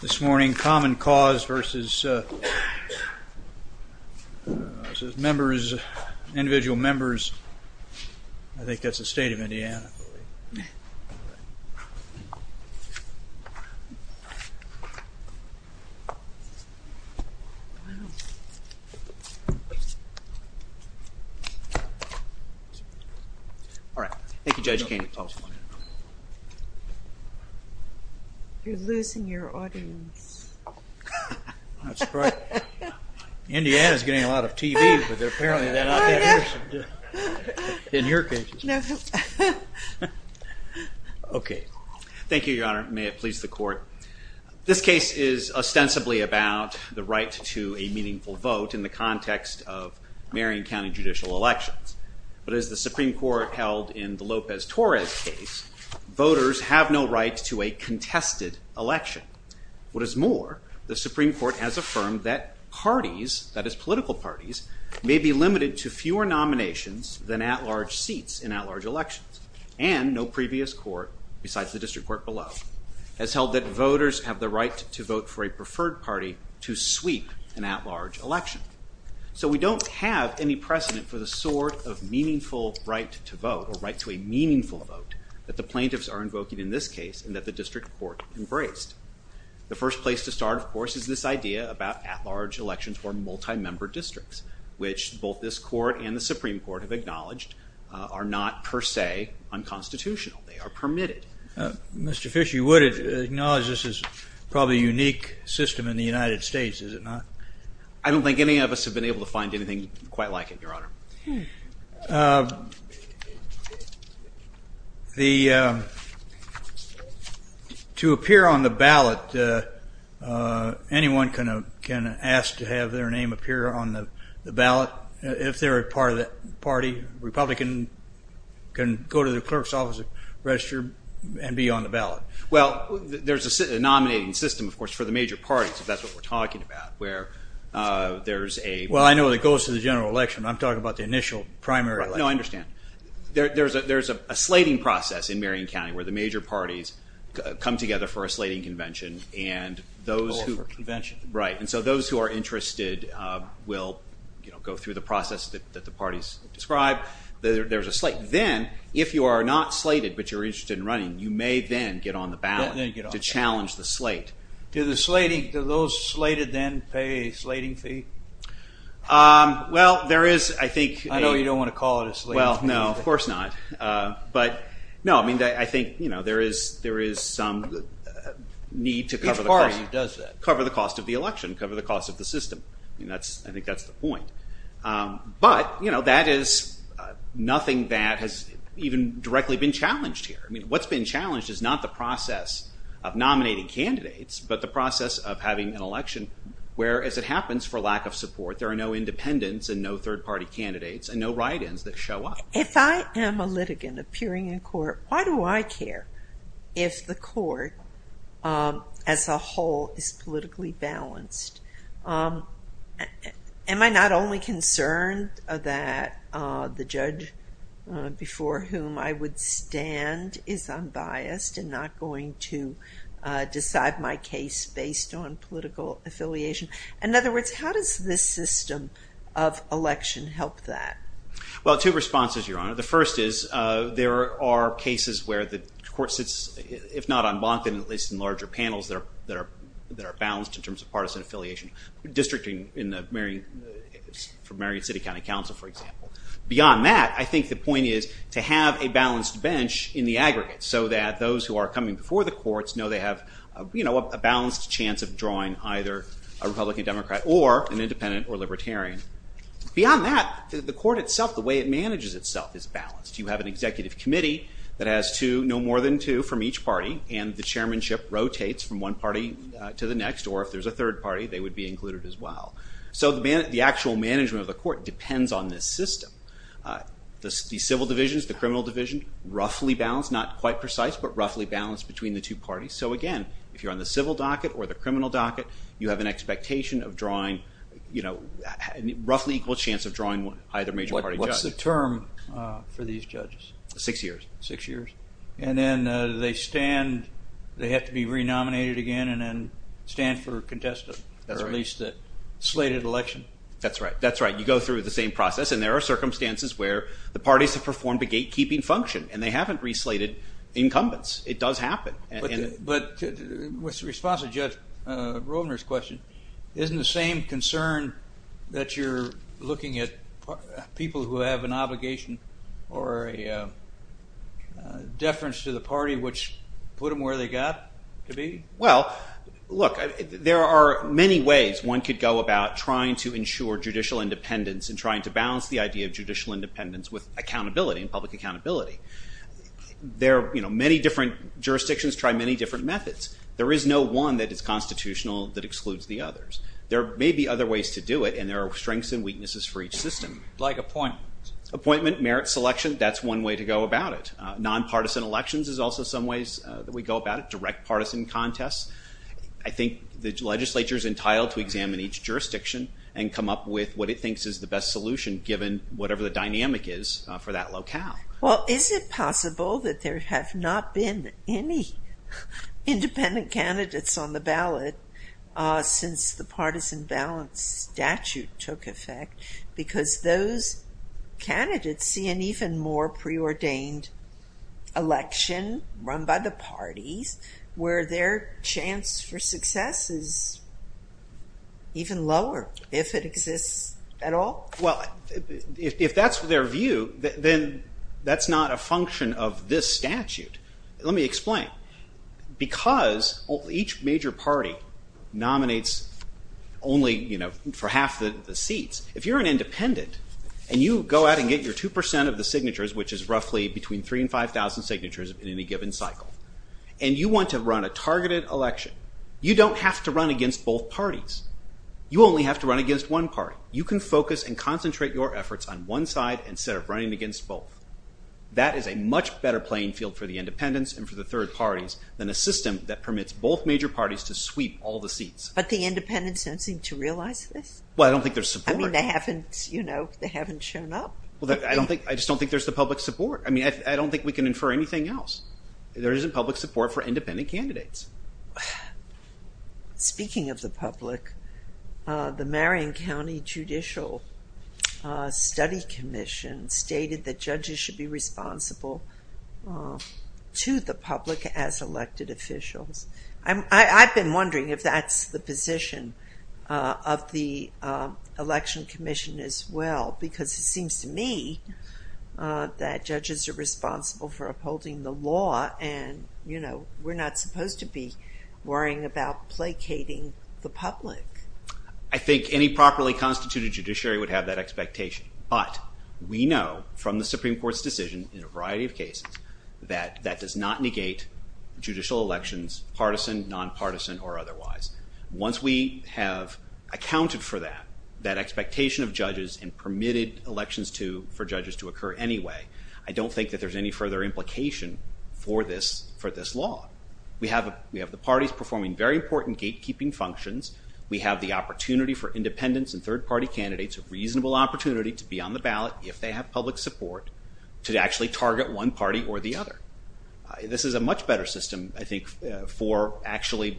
This morning, Common Cause v. Individual Members, I think that's the State of Indiana, I believe. All right. Thank you, Judge Caney. You're losing your audience. That's right. Indiana's getting a lot of TV, but apparently they're not that interested in your cases. Okay. Thank you, Your Honor. May it please the Court. This case is ostensibly about the right to a meaningful vote in the context of Marion County judicial elections. But as the Supreme Court held in the Lopez-Torres case, voters have no right to a contested election. What is more, the Supreme Court has affirmed that parties, that is political parties, may be limited to fewer nominations than at-large seats in at-large elections. And no previous court, besides the district court below, has held that voters have the right to vote for a preferred party to sweep an at-large election. So we don't have any precedent for the sort of meaningful right to vote, or right to a meaningful vote, that the plaintiffs are invoking in this case and that the district court embraced. The first place to start, of course, is this idea about at-large elections for multi-member districts, which both this court and the Supreme Court have acknowledged are not per se unconstitutional. They are permitted. Mr. Fish, you would acknowledge this is probably a unique system in the United States, is it not? I don't think any of us have been able to find anything quite like it, Your Honor. To appear on the ballot, anyone can ask to have their name appear on the ballot. If they're a part of the party, a Republican can go to the clerk's office, register, and be on the ballot. Well, there's a nominating system, of course, for the major parties, if that's what we're talking about, where there's a... Well, I know it goes to the general election, but I'm talking about the initial primary election. No, I understand. There's a slating process in Marion County where the major parties come together for a slating convention and those who... Go for a convention. Right, and so those who are interested will go through the process that the parties describe. There's a slate. Then, if you are not slated but you're interested in running, you may then get on the ballot to challenge the slate. Do those slated then pay a slating fee? Well, there is, I think... I know you don't want to call it a slate. Well, no, of course not. But, no, I think there is some need to cover the cost. Each party does that. Cover the cost of the election, cover the cost of the system. I think that's the point. But, you know, that is nothing that has even directly been challenged here. I mean, what's been challenged is not the process of nominating candidates, but the process of having an election, where, as it happens, for lack of support, there are no independents and no third-party candidates and no write-ins that show up. If I am a litigant appearing in court, why do I care if the court as a whole is politically balanced? Am I not only concerned that the judge before whom I would stand is unbiased and not going to decide my case based on political affiliation? In other words, how does this system of election help that? The first is there are cases where the court sits, if not en banc, then at least in larger panels that are balanced in terms of partisan affiliation, districting from Marion City County Council, for example. Beyond that, I think the point is to have a balanced bench in the aggregate so that those who are coming before the courts know they have a balanced chance of drawing either a Republican, Democrat, or an Independent or Libertarian. Beyond that, the court itself, the way it manages itself is balanced. You have an executive committee that has no more than two from each party and the chairmanship rotates from one party to the next, or if there is a third party, they would be included as well. So the actual management of the court depends on this system. The civil divisions, the criminal division, roughly balanced, not quite precise, but roughly balanced between the two parties. So again, if you are on the civil docket or the criminal docket, you have an expectation of drawing, you know, roughly equal chance of drawing either major party judge. What's the term for these judges? Six years. Six years. And then they stand, they have to be re-nominated again, and then stand for contested, or at least slated election. That's right, that's right. You go through the same process, and there are circumstances where the parties have performed a gatekeeping function, and they haven't re-slated incumbents. It does happen. But in response to Judge Rovner's question, isn't the same concern that you're looking at people who have an obligation or a deference to the party, which put them where they got to be? Well, look, there are many ways one could go about trying to ensure judicial independence and trying to balance the idea of judicial independence with accountability and public accountability. There are many different jurisdictions try many different methods. There is no one that is constitutional that excludes the others. There may be other ways to do it, and there are strengths and weaknesses for each system. Like appointments. Appointment, merit selection, that's one way to go about it. Nonpartisan elections is also some ways that we go about it, direct partisan contests. I think the legislature is entitled to examine each jurisdiction and come up with what it thinks is the best solution, given whatever the dynamic is for that locale. Well, is it possible that there have not been any independent candidates on the ballot since the partisan balance statute took effect? Because those candidates see an even more preordained election run by the parties where their chance for success is even lower, if it exists at all. If that's their view, then that's not a function of this statute. Let me explain. Because each major party nominates only for half the seats, if you're an independent and you go out and get your 2% of the signatures, which is roughly between 3,000 and 5,000 signatures in any given cycle, and you want to run a targeted election, you don't have to run against both parties. You only have to run against one party. You can focus and concentrate your efforts on one side instead of running against both. That is a much better playing field for the independents and for the third parties than a system that permits both major parties to sweep all the seats. But the independents don't seem to realize this. Well, I don't think there's support. I mean, they haven't shown up. I just don't think there's the public support. I mean, I don't think we can infer anything else. There isn't public support for independent candidates. Speaking of the public, the Marion County Judicial Study Commission stated that judges should be responsible to the public as elected officials. I've been wondering if that's the position of the Election Commission as well, because it seems to me that judges are responsible for upholding the law and we're not supposed to be worrying about placating the public. I think any properly constituted judiciary would have that expectation. But we know from the Supreme Court's decision in a variety of cases that that does not negate judicial elections, partisan, nonpartisan, or otherwise. Once we have accounted for that, that expectation of judges and permitted elections for judges to occur anyway, I don't think that there's any further implication for this law. We have the parties performing very important gatekeeping functions. We have the opportunity for independents and third-party candidates, a reasonable opportunity to be on the ballot if they have public support, to actually target one party or the other. This is a much better system, I think, for actually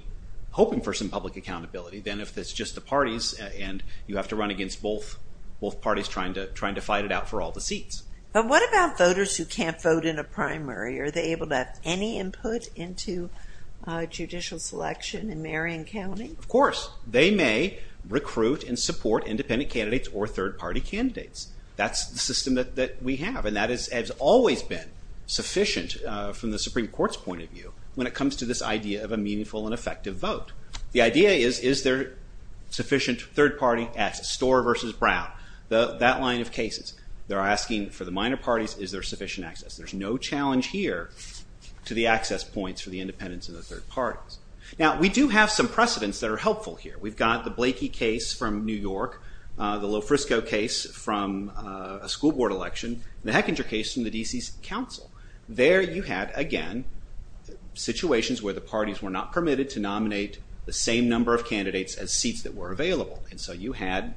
hoping for some public accountability than if it's just the parties and you have to run against both parties trying to fight it out for all the seats. But what about voters who can't vote in a primary? Are they able to have any input into judicial selection in Marion County? Of course. They may recruit and support independent candidates or third-party candidates. That's the system that we have, and that has always been sufficient from the Supreme Court's point of view when it comes to this idea of a meaningful and effective vote. The idea is, is there sufficient third-party access? Storr v. Brown, that line of cases, they're asking for the minor parties, is there sufficient access? There's no challenge here to the access points for the independents and the third parties. Now, we do have some precedents that are helpful here. We've got the Blakey case from New York, the Lofrisco case from a school board election, the Hechinger case from the D.C. Council. There you had, again, situations where the parties were not permitted to nominate the same number of candidates as seats that were available. And so you had,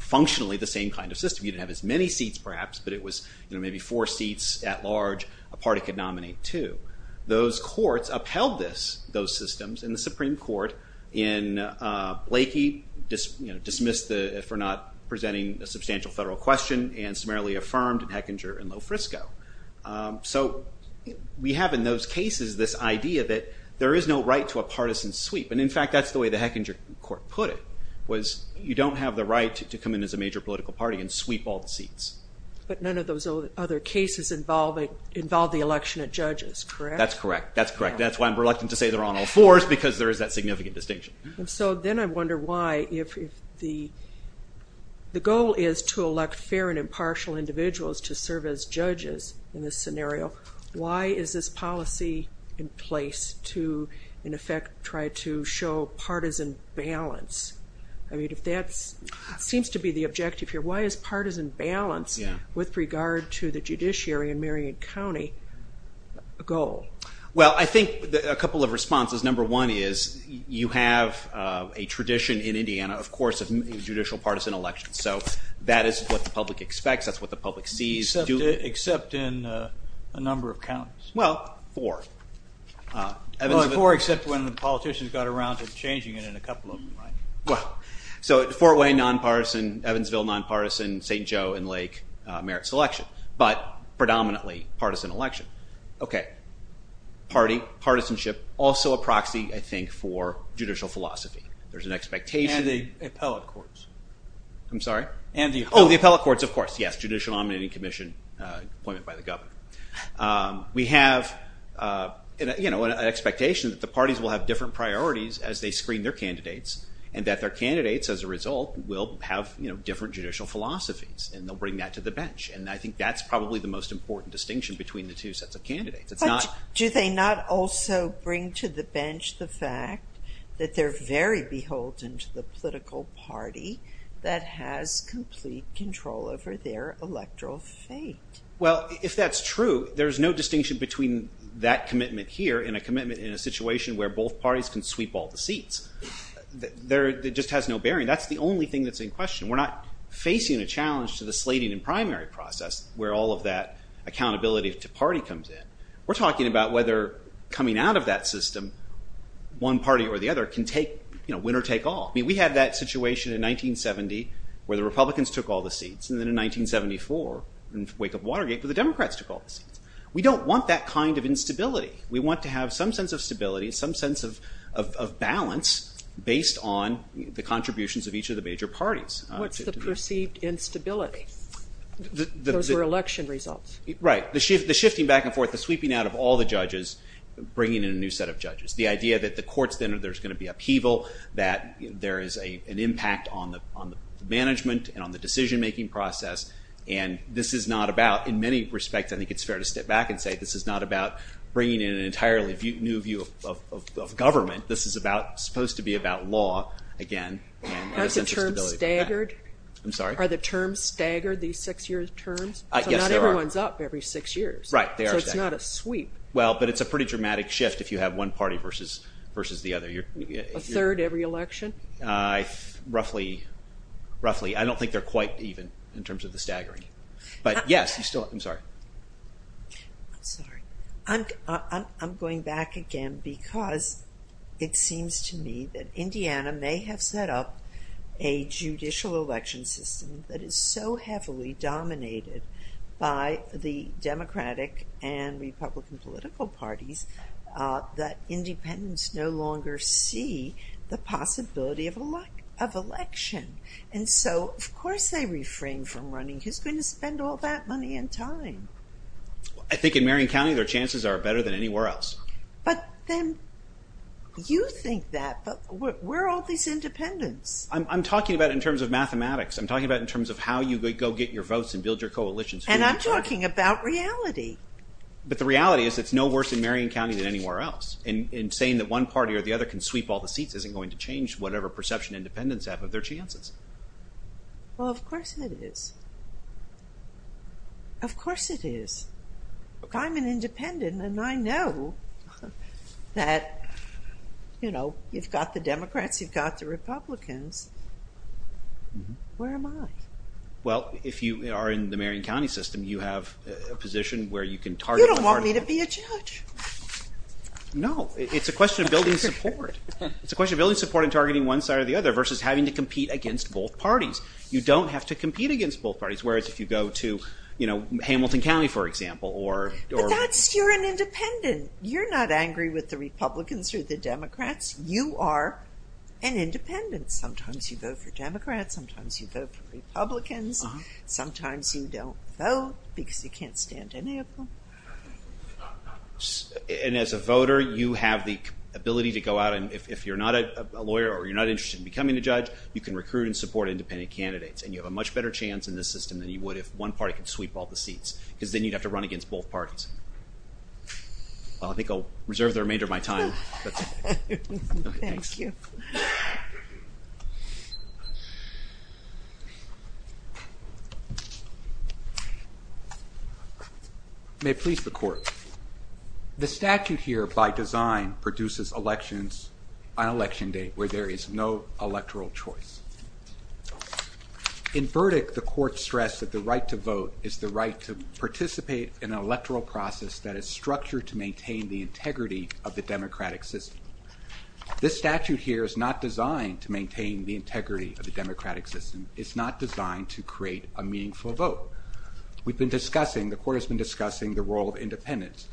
functionally, the same kind of system. You didn't have as many seats, perhaps, but it was maybe four seats at large a party could nominate to. Those courts upheld those systems in the Supreme Court. In Blakey, dismissed if we're not presenting a substantial federal question and summarily affirmed in Hechinger and Lofrisco. So we have in those cases this idea that there is no right to a partisan sweep. And, in fact, that's the way the Hechinger court put it, was you don't have the right to come in as a major political party and sweep all the seats. But none of those other cases involve the election of judges, correct? That's correct. That's correct. That's why I'm reluctant to say they're on all fours because there is that significant distinction. So then I wonder why, if the goal is to elect fair and impartial individuals to serve as judges in this scenario, why is this policy in place to, in effect, try to show partisan balance? I mean, if that seems to be the objective here, why is partisan balance with regard to the judiciary in Marion County a goal? Well, I think a couple of responses. Number one is you have a tradition in Indiana, of course, of judicial partisan elections. So that is what the public expects. That's what the public sees. Except in a number of counties. Well, four. Four except when the politicians got around to changing it in a couple of them, right? Well, so Fort Wayne nonpartisan, Evansville nonpartisan, St. Joe and Lake merit selection. But predominantly partisan election. Okay. Party, partisanship, also a proxy, I think, for judicial philosophy. There's an expectation. And the appellate courts. I'm sorry? Oh, the appellate courts, of course, yes. Judicial nominating commission appointment by the governor. We have an expectation that the parties will have different priorities as they screen their candidates. And that their candidates, as a result, will have different judicial philosophies. And they'll bring that to the bench. And I think that's probably the most important distinction between the two sets of candidates. Do they not also bring to the bench the fact that they're very beholden to the political party that has complete control over their electoral fate? Well, if that's true, there's no distinction between that commitment here and a commitment in a situation where both parties can sweep all the seats. It just has no bearing. That's the only thing that's in question. We're not facing a challenge to the slating and primary process where all of that accountability to party comes in. We're talking about whether coming out of that system, one party or the other can win or take all. We had that situation in 1970 where the Republicans took all the seats. And then in 1974, in the wake of Watergate, where the Democrats took all the seats. We don't want that kind of instability. We want to have some sense of stability, some sense of balance based on the contributions of each of the major parties. What's the perceived instability? Those were election results. Right. The shifting back and forth, the sweeping out of all the judges, bringing in a new set of judges. The idea that the courts then, there's going to be upheaval, that there is an impact on the management and on the decision-making process. And this is not about, in many respects, I think it's fair to step back and say this is not about bringing in an entirely new view of government. This is supposed to be about law again. Aren't the terms staggered? I'm sorry? Are the terms staggered, these six-year terms? Yes, there are. So not everyone's up every six years. Right. They are staggered. So it's not a sweep. Well, but it's a pretty dramatic shift if you have one party versus the other. A third every election? Roughly. I don't think they're quite even in terms of the staggering. But yes, I'm sorry. I'm sorry. I'm going back again because it seems to me that Indiana may have set up a judicial election system that is so heavily dominated by the Democratic and Republican political parties that independents no longer see the possibility of election. And so, of course, they refrain from running. Who's going to spend all that money and time? I think in Marion County their chances are better than anywhere else. But then you think that, but where are all these independents? I'm talking about in terms of mathematics. I'm talking about in terms of how you go get your votes and build your coalitions. And I'm talking about reality. But the reality is it's no worse in Marion County than anywhere else. And saying that one party or the other can sweep all the seats isn't going to change whatever perception independents have of their chances. Well, of course it is. Of course it is. I'm an independent, and I know that, you know, you've got the Democrats, you've got the Republicans. Where am I? Well, if you are in the Marion County system, you have a position where you can target one party. You don't want me to be a judge. No, it's a question of building support. It's a question of building support and targeting one side or the other versus having to compete against both parties. You don't have to compete against both parties, whereas if you go to, you know, Hamilton County, for example. But that's, you're an independent. You're not angry with the Republicans or the Democrats. You are an independent. Sometimes you vote for Democrats. Sometimes you vote for Republicans. Sometimes you don't vote because you can't stand any of them. And as a voter, you have the ability to go out, and if you're not a lawyer or you're not interested in becoming a judge, you can recruit and support independent candidates, and you have a much better chance in this system than you would if one party could sweep all the seats, because then you'd have to run against both parties. Well, I think I'll reserve the remainder of my time. Thank you. May it please the Court. The statute here, by design, produces elections on election day, where there is no electoral choice. It's the right to participate in an electoral process that is structured to maintain the integrity of the democratic system. This statute here is not designed to maintain the integrity of the democratic system. It's not designed to create a meaningful vote. We've been discussing, the Court has been discussing, the role of independents.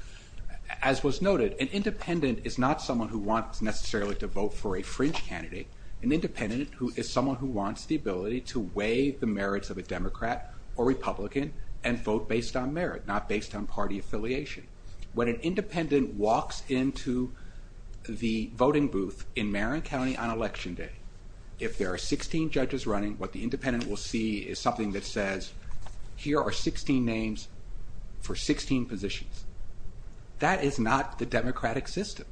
As was noted, an independent is not someone who wants necessarily to vote for a fringe candidate. An independent is someone who wants the ability to weigh the merits of a Democrat or Republican and vote based on merit, not based on party affiliation. When an independent walks into the voting booth in Marin County on election day, if there are 16 judges running, what the independent will see is something that says, here are 16 names for 16 positions. That is not the democratic system.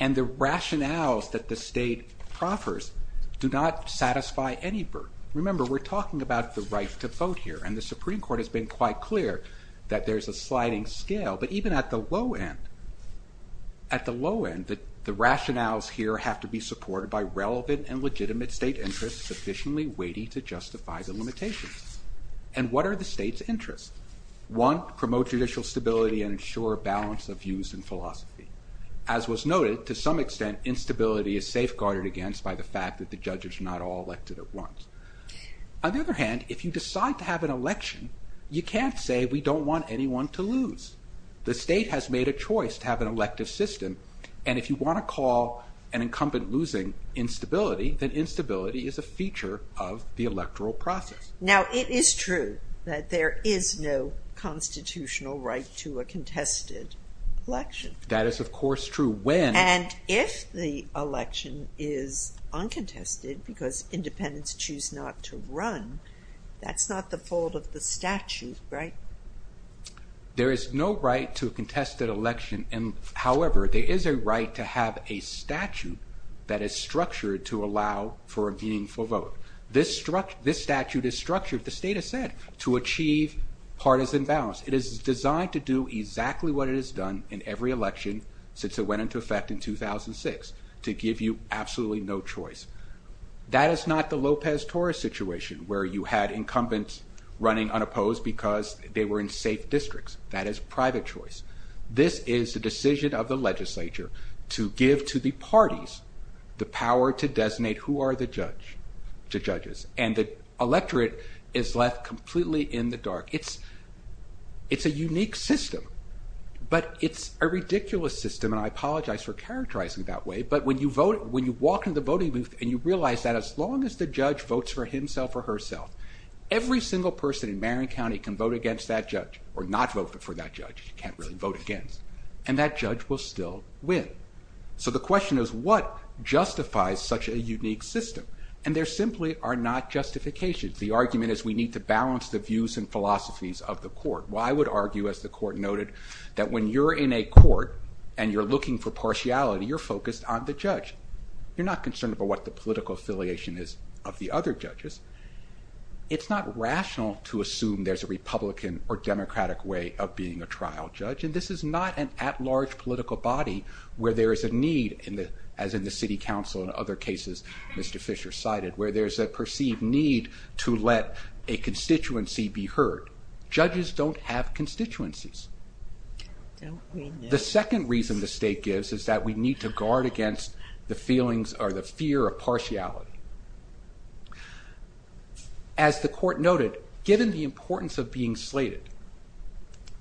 And the rationales that the state proffers do not satisfy any burden. Remember, we're talking about the right to vote here. And the Supreme Court has been quite clear that there's a sliding scale. But even at the low end, the rationales here have to be supported by relevant and legitimate state interests sufficiently weighty to justify the limitations. And what are the state's interests? One, promote judicial stability and ensure a balance of views and philosophy. As was noted, to some extent, instability is safeguarded against by the fact that the judges are not all elected at once. On the other hand, if you decide to have an election, you can't say we don't want anyone to lose. The state has made a choice to have an elective system. And if you want to call an incumbent losing instability, then instability is a feature of the electoral process. Now, it is true that there is no constitutional right to a contested election. That is, of course, true when... the election is uncontested because independents choose not to run. That's not the fault of the statute, right? There is no right to a contested election. However, there is a right to have a statute that is structured to allow for a meaningful vote. This statute is structured, the state has said, to achieve partisan balance. It is designed to do exactly what it has done in every election since it went into effect in 2006, to give you absolutely no choice. That is not the Lopez-Torres situation, where you had incumbents running unopposed because they were in safe districts. That is private choice. This is the decision of the legislature to give to the parties the power to designate who are the judges. And the electorate is left completely in the dark. It's a unique system, but it's a ridiculous system, and I apologize for characterizing it that way, but when you walk into the voting booth and you realize that as long as the judge votes for himself or herself, every single person in Marion County can vote against that judge, or not vote for that judge, you can't really vote against, and that judge will still win. So the question is, what justifies such a unique system? And there simply are not justifications. The argument is we need to balance the views and philosophies of the court. Well, I would argue, as the court noted, that when you're in a court and you're looking for partiality, you're focused on the judge. You're not concerned about what the political affiliation is of the other judges. It's not rational to assume there's a Republican or Democratic way of being a trial judge, and this is not an at-large political body where there is a need, as in the city council and other cases Mr. Fisher cited, where there's a perceived need to let a constituency be heard. Judges don't have constituencies. The second reason the state gives is that we need to guard against the feelings or the fear of partiality. As the court noted, given the importance of being slated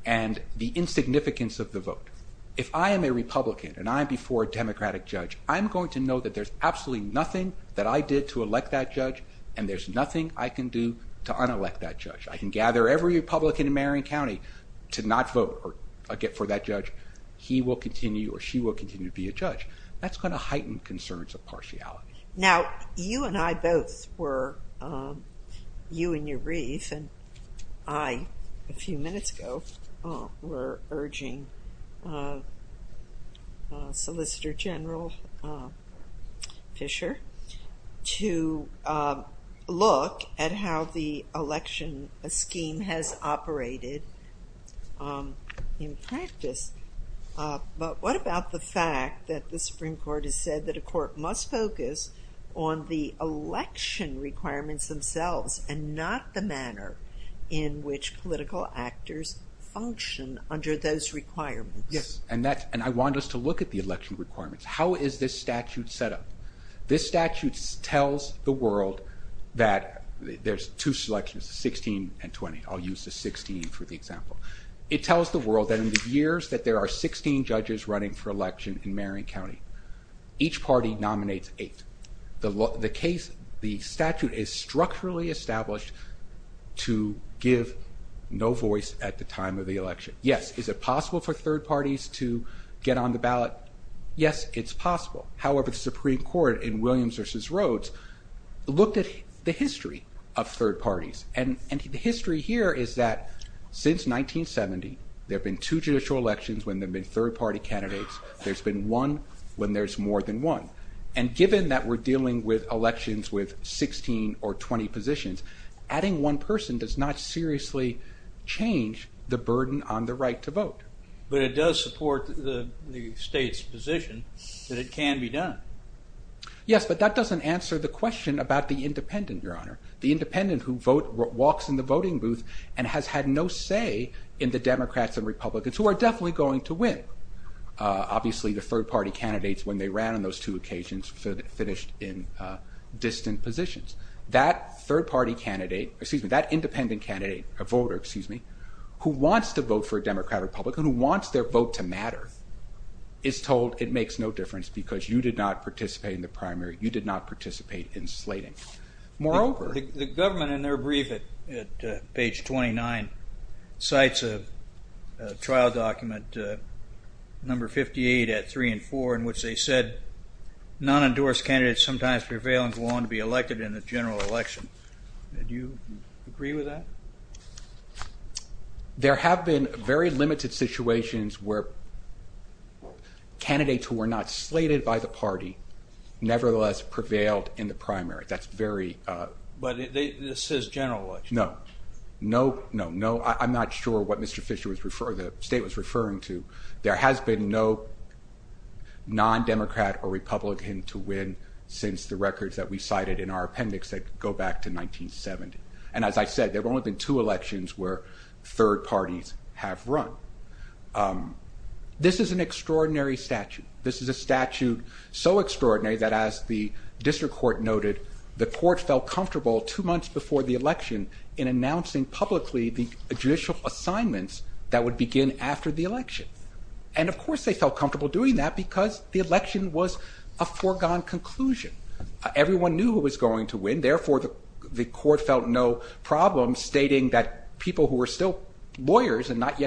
and the insignificance of the vote, if I am a Republican and I'm before a Democratic judge, I'm going to know that there's absolutely nothing that I did to elect that judge, and there's nothing I can do to unelect that judge. I can gather every Republican in Marion County to not vote for that judge. He will continue, or she will continue to be a judge. That's going to heighten concerns of partiality. Now, you and I both were, you and your brief, and I, a few minutes ago, were urging Solicitor General Fisher to look at how the election scheme has operated in practice, but what about the fact that the Supreme Court has said that a court must focus on the election requirements themselves and not the manner in which political actors function under those requirements? Yes, and I want us to look at the election requirements. How is this statute set up? This statute tells the world that there's two selections, 16 and 20. I'll use the 16 for the example. It tells the world that in the years that there are 16 judges running for election in Marion County, each party nominates eight. The case, the statute is structurally established to give no voice at the time of the election. Yes, is it possible for third parties to get on the ballot? Yes, it's possible. However, the Supreme Court in Williams v. Rhodes looked at the history of third parties, and the history here is that since 1970, there have been two judicial elections when there have been third party candidates. There's been one when there's more than one, and given that we're dealing with elections with 16 or 20 positions, adding one person does not seriously change the burden on the right to vote. But it does support the state's position that it can be done. Yes, but that doesn't answer the question about the independent, Your Honor. The independent who walks in the voting booth and has had no say in the Democrats and Republicans, who are definitely going to win. Obviously, the third party candidates, when they ran on those two occasions, finished in distant positions. That third party candidate, excuse me, that independent candidate, a voter, excuse me, who wants to vote for a Democrat or Republican, who wants their vote to matter, is told it makes no difference because you did not participate in the primary, you did not participate in slating. Moreover... The government, in their brief at page 29, cites a trial document number 58 at 3 and 4, in which they said non-endorsed candidates sometimes prevail and go on to be elected in the general election. Do you agree with that? There have been very few candidates who were not slated by the party, nevertheless prevailed in the primary. That's very... But this is general election. No, no, no. I'm not sure what Mr. Fischer was referring to, the state was referring to. There has been no non-Democrat or Republican to win since the records that we cited in our appendix that go back to 1970. And as I said, there have only been two elections where third parties have run. This is an extraordinary statute. This is a statute so extraordinary that as the district court noted, the court felt comfortable two months before the election in announcing publicly the judicial assignments that would begin after the election. And of course they felt comfortable doing that because the election was a foregone conclusion. Everyone knew who was going to win, therefore the court felt no problem stating that people who were still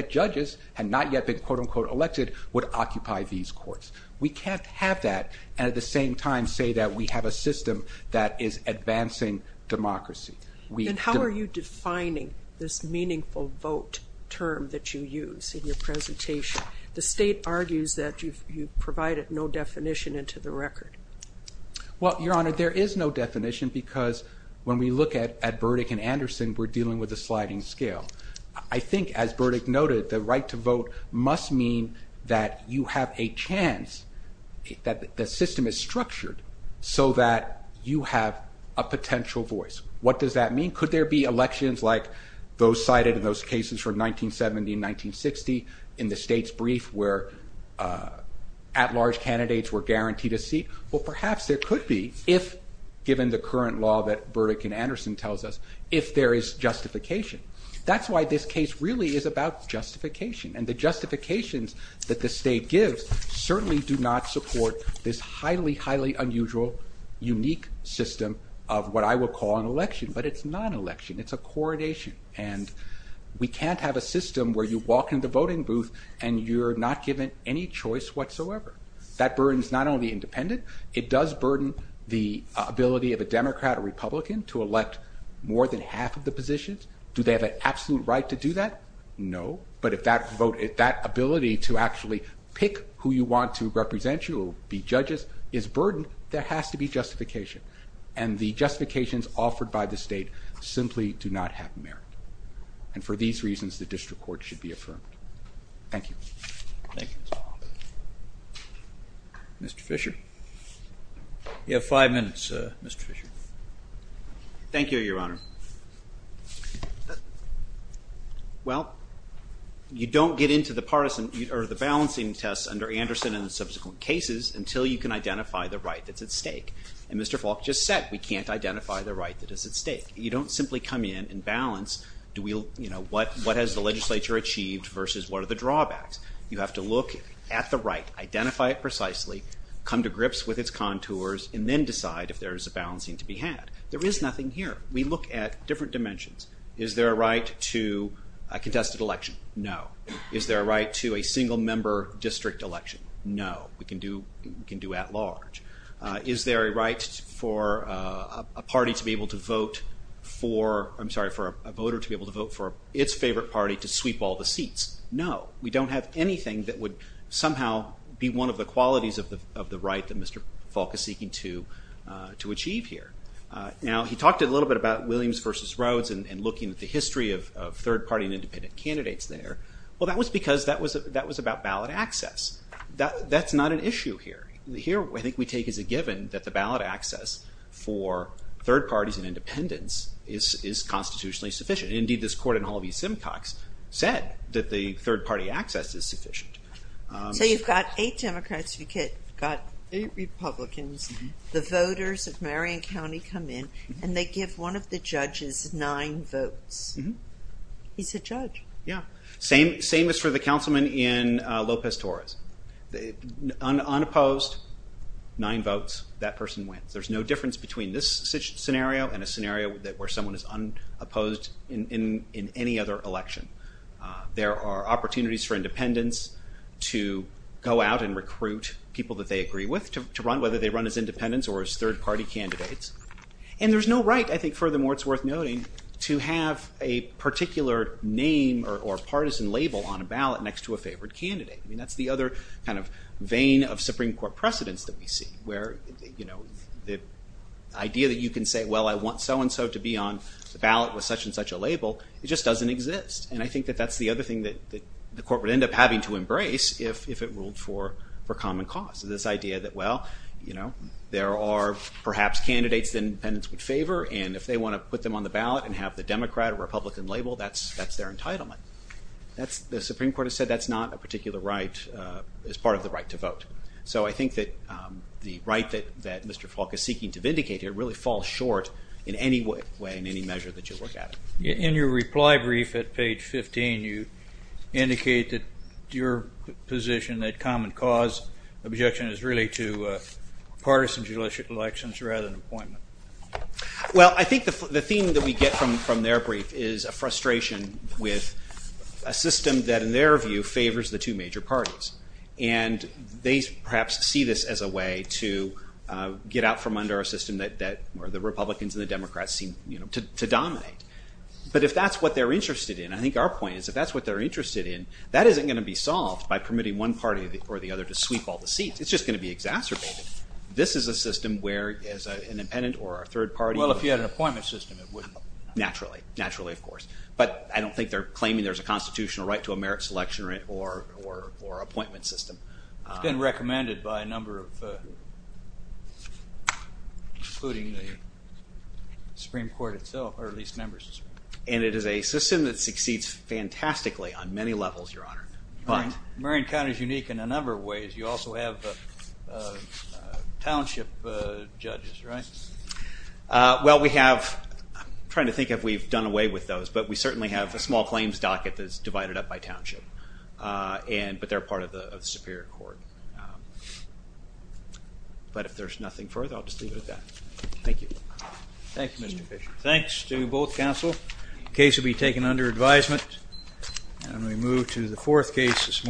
judges had not yet been quote unquote elected would occupy these courts. We can't have that and at the same time say that we have a system that is advancing democracy. And how are you defining this meaningful vote term that you use in your presentation? The state argues that you've provided no definition into the record. Well, Your Honor, there is no definition because when we look at Burdick and Anderson, we're dealing with a sliding scale. I think as Burdick noted, the right to vote must mean that you have a chance that the system is structured so that you have a potential voice. What does that mean? Could there be elections like those cited in those cases from 1970 and 1960 in the state's brief where at large candidates were guaranteed a seat? Well, perhaps there could be if given the current law that Burdick and Anderson tells us, if there is justification. That's why this case really is about justification and the justifications that the state gives certainly do not support this highly highly unusual unique system of what I will call an election, but it's not an election. It's a coronation and we can't have a system where you walk into the voting booth and you're not given any choice whatsoever. That burden is not only independent, it does burden the ability of a Democrat or Republican to elect more than half of the positions. Do they have an absolute right to do that? No. But if that vote, if that ability to actually pick who you want to represent you or be judges is burdened, there has to be justification and the justifications offered by the state simply do not have merit and for these reasons the district court should be affirmed. Thank you. Mr. Fischer. You have five minutes, Mr. Fischer. Thank you, Your Honor. Well, you don't get into the balancing test under Anderson and the subsequent cases until you can identify the right that's at stake and Mr. Faulk just said we can't identify the right that is at stake. You don't simply come in and balance what has the legislature achieved versus what are the drawbacks. You have to look at the right, identify it precisely, come to grips with its contours and then decide if there is a balancing to be had. There is nothing here. We look at different dimensions. Is there a right to a contested election? No. Is there a right to a single member district election? No. We can do at large. Is there a right for a party to be able to vote for, I'm sorry, for a voter to be able to vote for its favorite party to sweep all the seats? No. We don't have anything that would somehow be one of the qualities of the right that Mr. Faulk is seeking to achieve here. Now, he talked a little bit about Williams versus Rhodes and looking at the history of third party and independent candidates there. Well, that was because that was about ballot access. That's not an issue here. Here, I think we take as a given that the ballot access for third parties and independents is constitutionally sufficient. Indeed, this court in Holvey-Simcox said that the third party access is sufficient. So you've got eight Democrats, you've got eight Republicans, the voters of Marion County come in and they give one of the judges nine votes. He's a judge. Yeah. Same as for the councilman in Lopez Torres. Unopposed, nine votes, that person wins. There's no difference between this scenario and a scenario where someone is unopposed in any other election. There are opportunities for independents to go out and recruit people that they agree with to run, whether they run as independents or as third party candidates. And there's no right, I think, furthermore, it's worth noting to have a particular name or partisan label on a ballot next to a favored candidate. That's the other kind of vein of Supreme Court precedence that we see where the idea that you can say, well, I want so and so to be on the ballot with such and such a label, it just doesn't exist. And I think that that's the other thing that the Court would end up having to embrace if it ruled for common cause. This idea that, well, you know, there are perhaps candidates that independents would favor, and if they want to put them on the ballot and have the Democrat or Republican label, that's their entitlement. The Supreme Court has said that's not a particular right as part of the right to vote. So I think that the right that Mr. Falk is seeking to vindicate here really falls short in any way and any measure that you look at. In your reply brief at page 15 you indicated your position that common cause objection is really to partisan elections rather than appointment. Well, I think the theme that we get from their brief is a frustration with a system that in their view favors the two major parties. And they perhaps see this as a way to get out from under a system where the Republicans and the Democrats seem to dominate. But if that's what they're interested in, I think our point is if that's what they're interested in, that isn't going to be solved by permitting one party or the other to sweep all the seats. It's just going to be exacerbated. This is a system where as an independent or a third party... Well, if you had an appointment system, it wouldn't... Naturally. Naturally, of course. But I don't think they're claiming there's a constitutional right to a merit selection or appointment system. It's been recommended by a number of people, including the Supreme Court itself, or at least members. And it is a system that succeeds fantastically on many levels, Your Honor. Marion County is unique in a number of ways. You also have township judges, right? Well, we have... I'm trying to think if we've done away with those, but we certainly have a small claims docket that's divided up by township. But they're part of the Superior Court. But if there's nothing further, I'll just leave it at that. Thank you. Thank you, Mr. Fisher. Thanks to both counsel. Case will be taken under advisement. And we move to the fourth case this morning.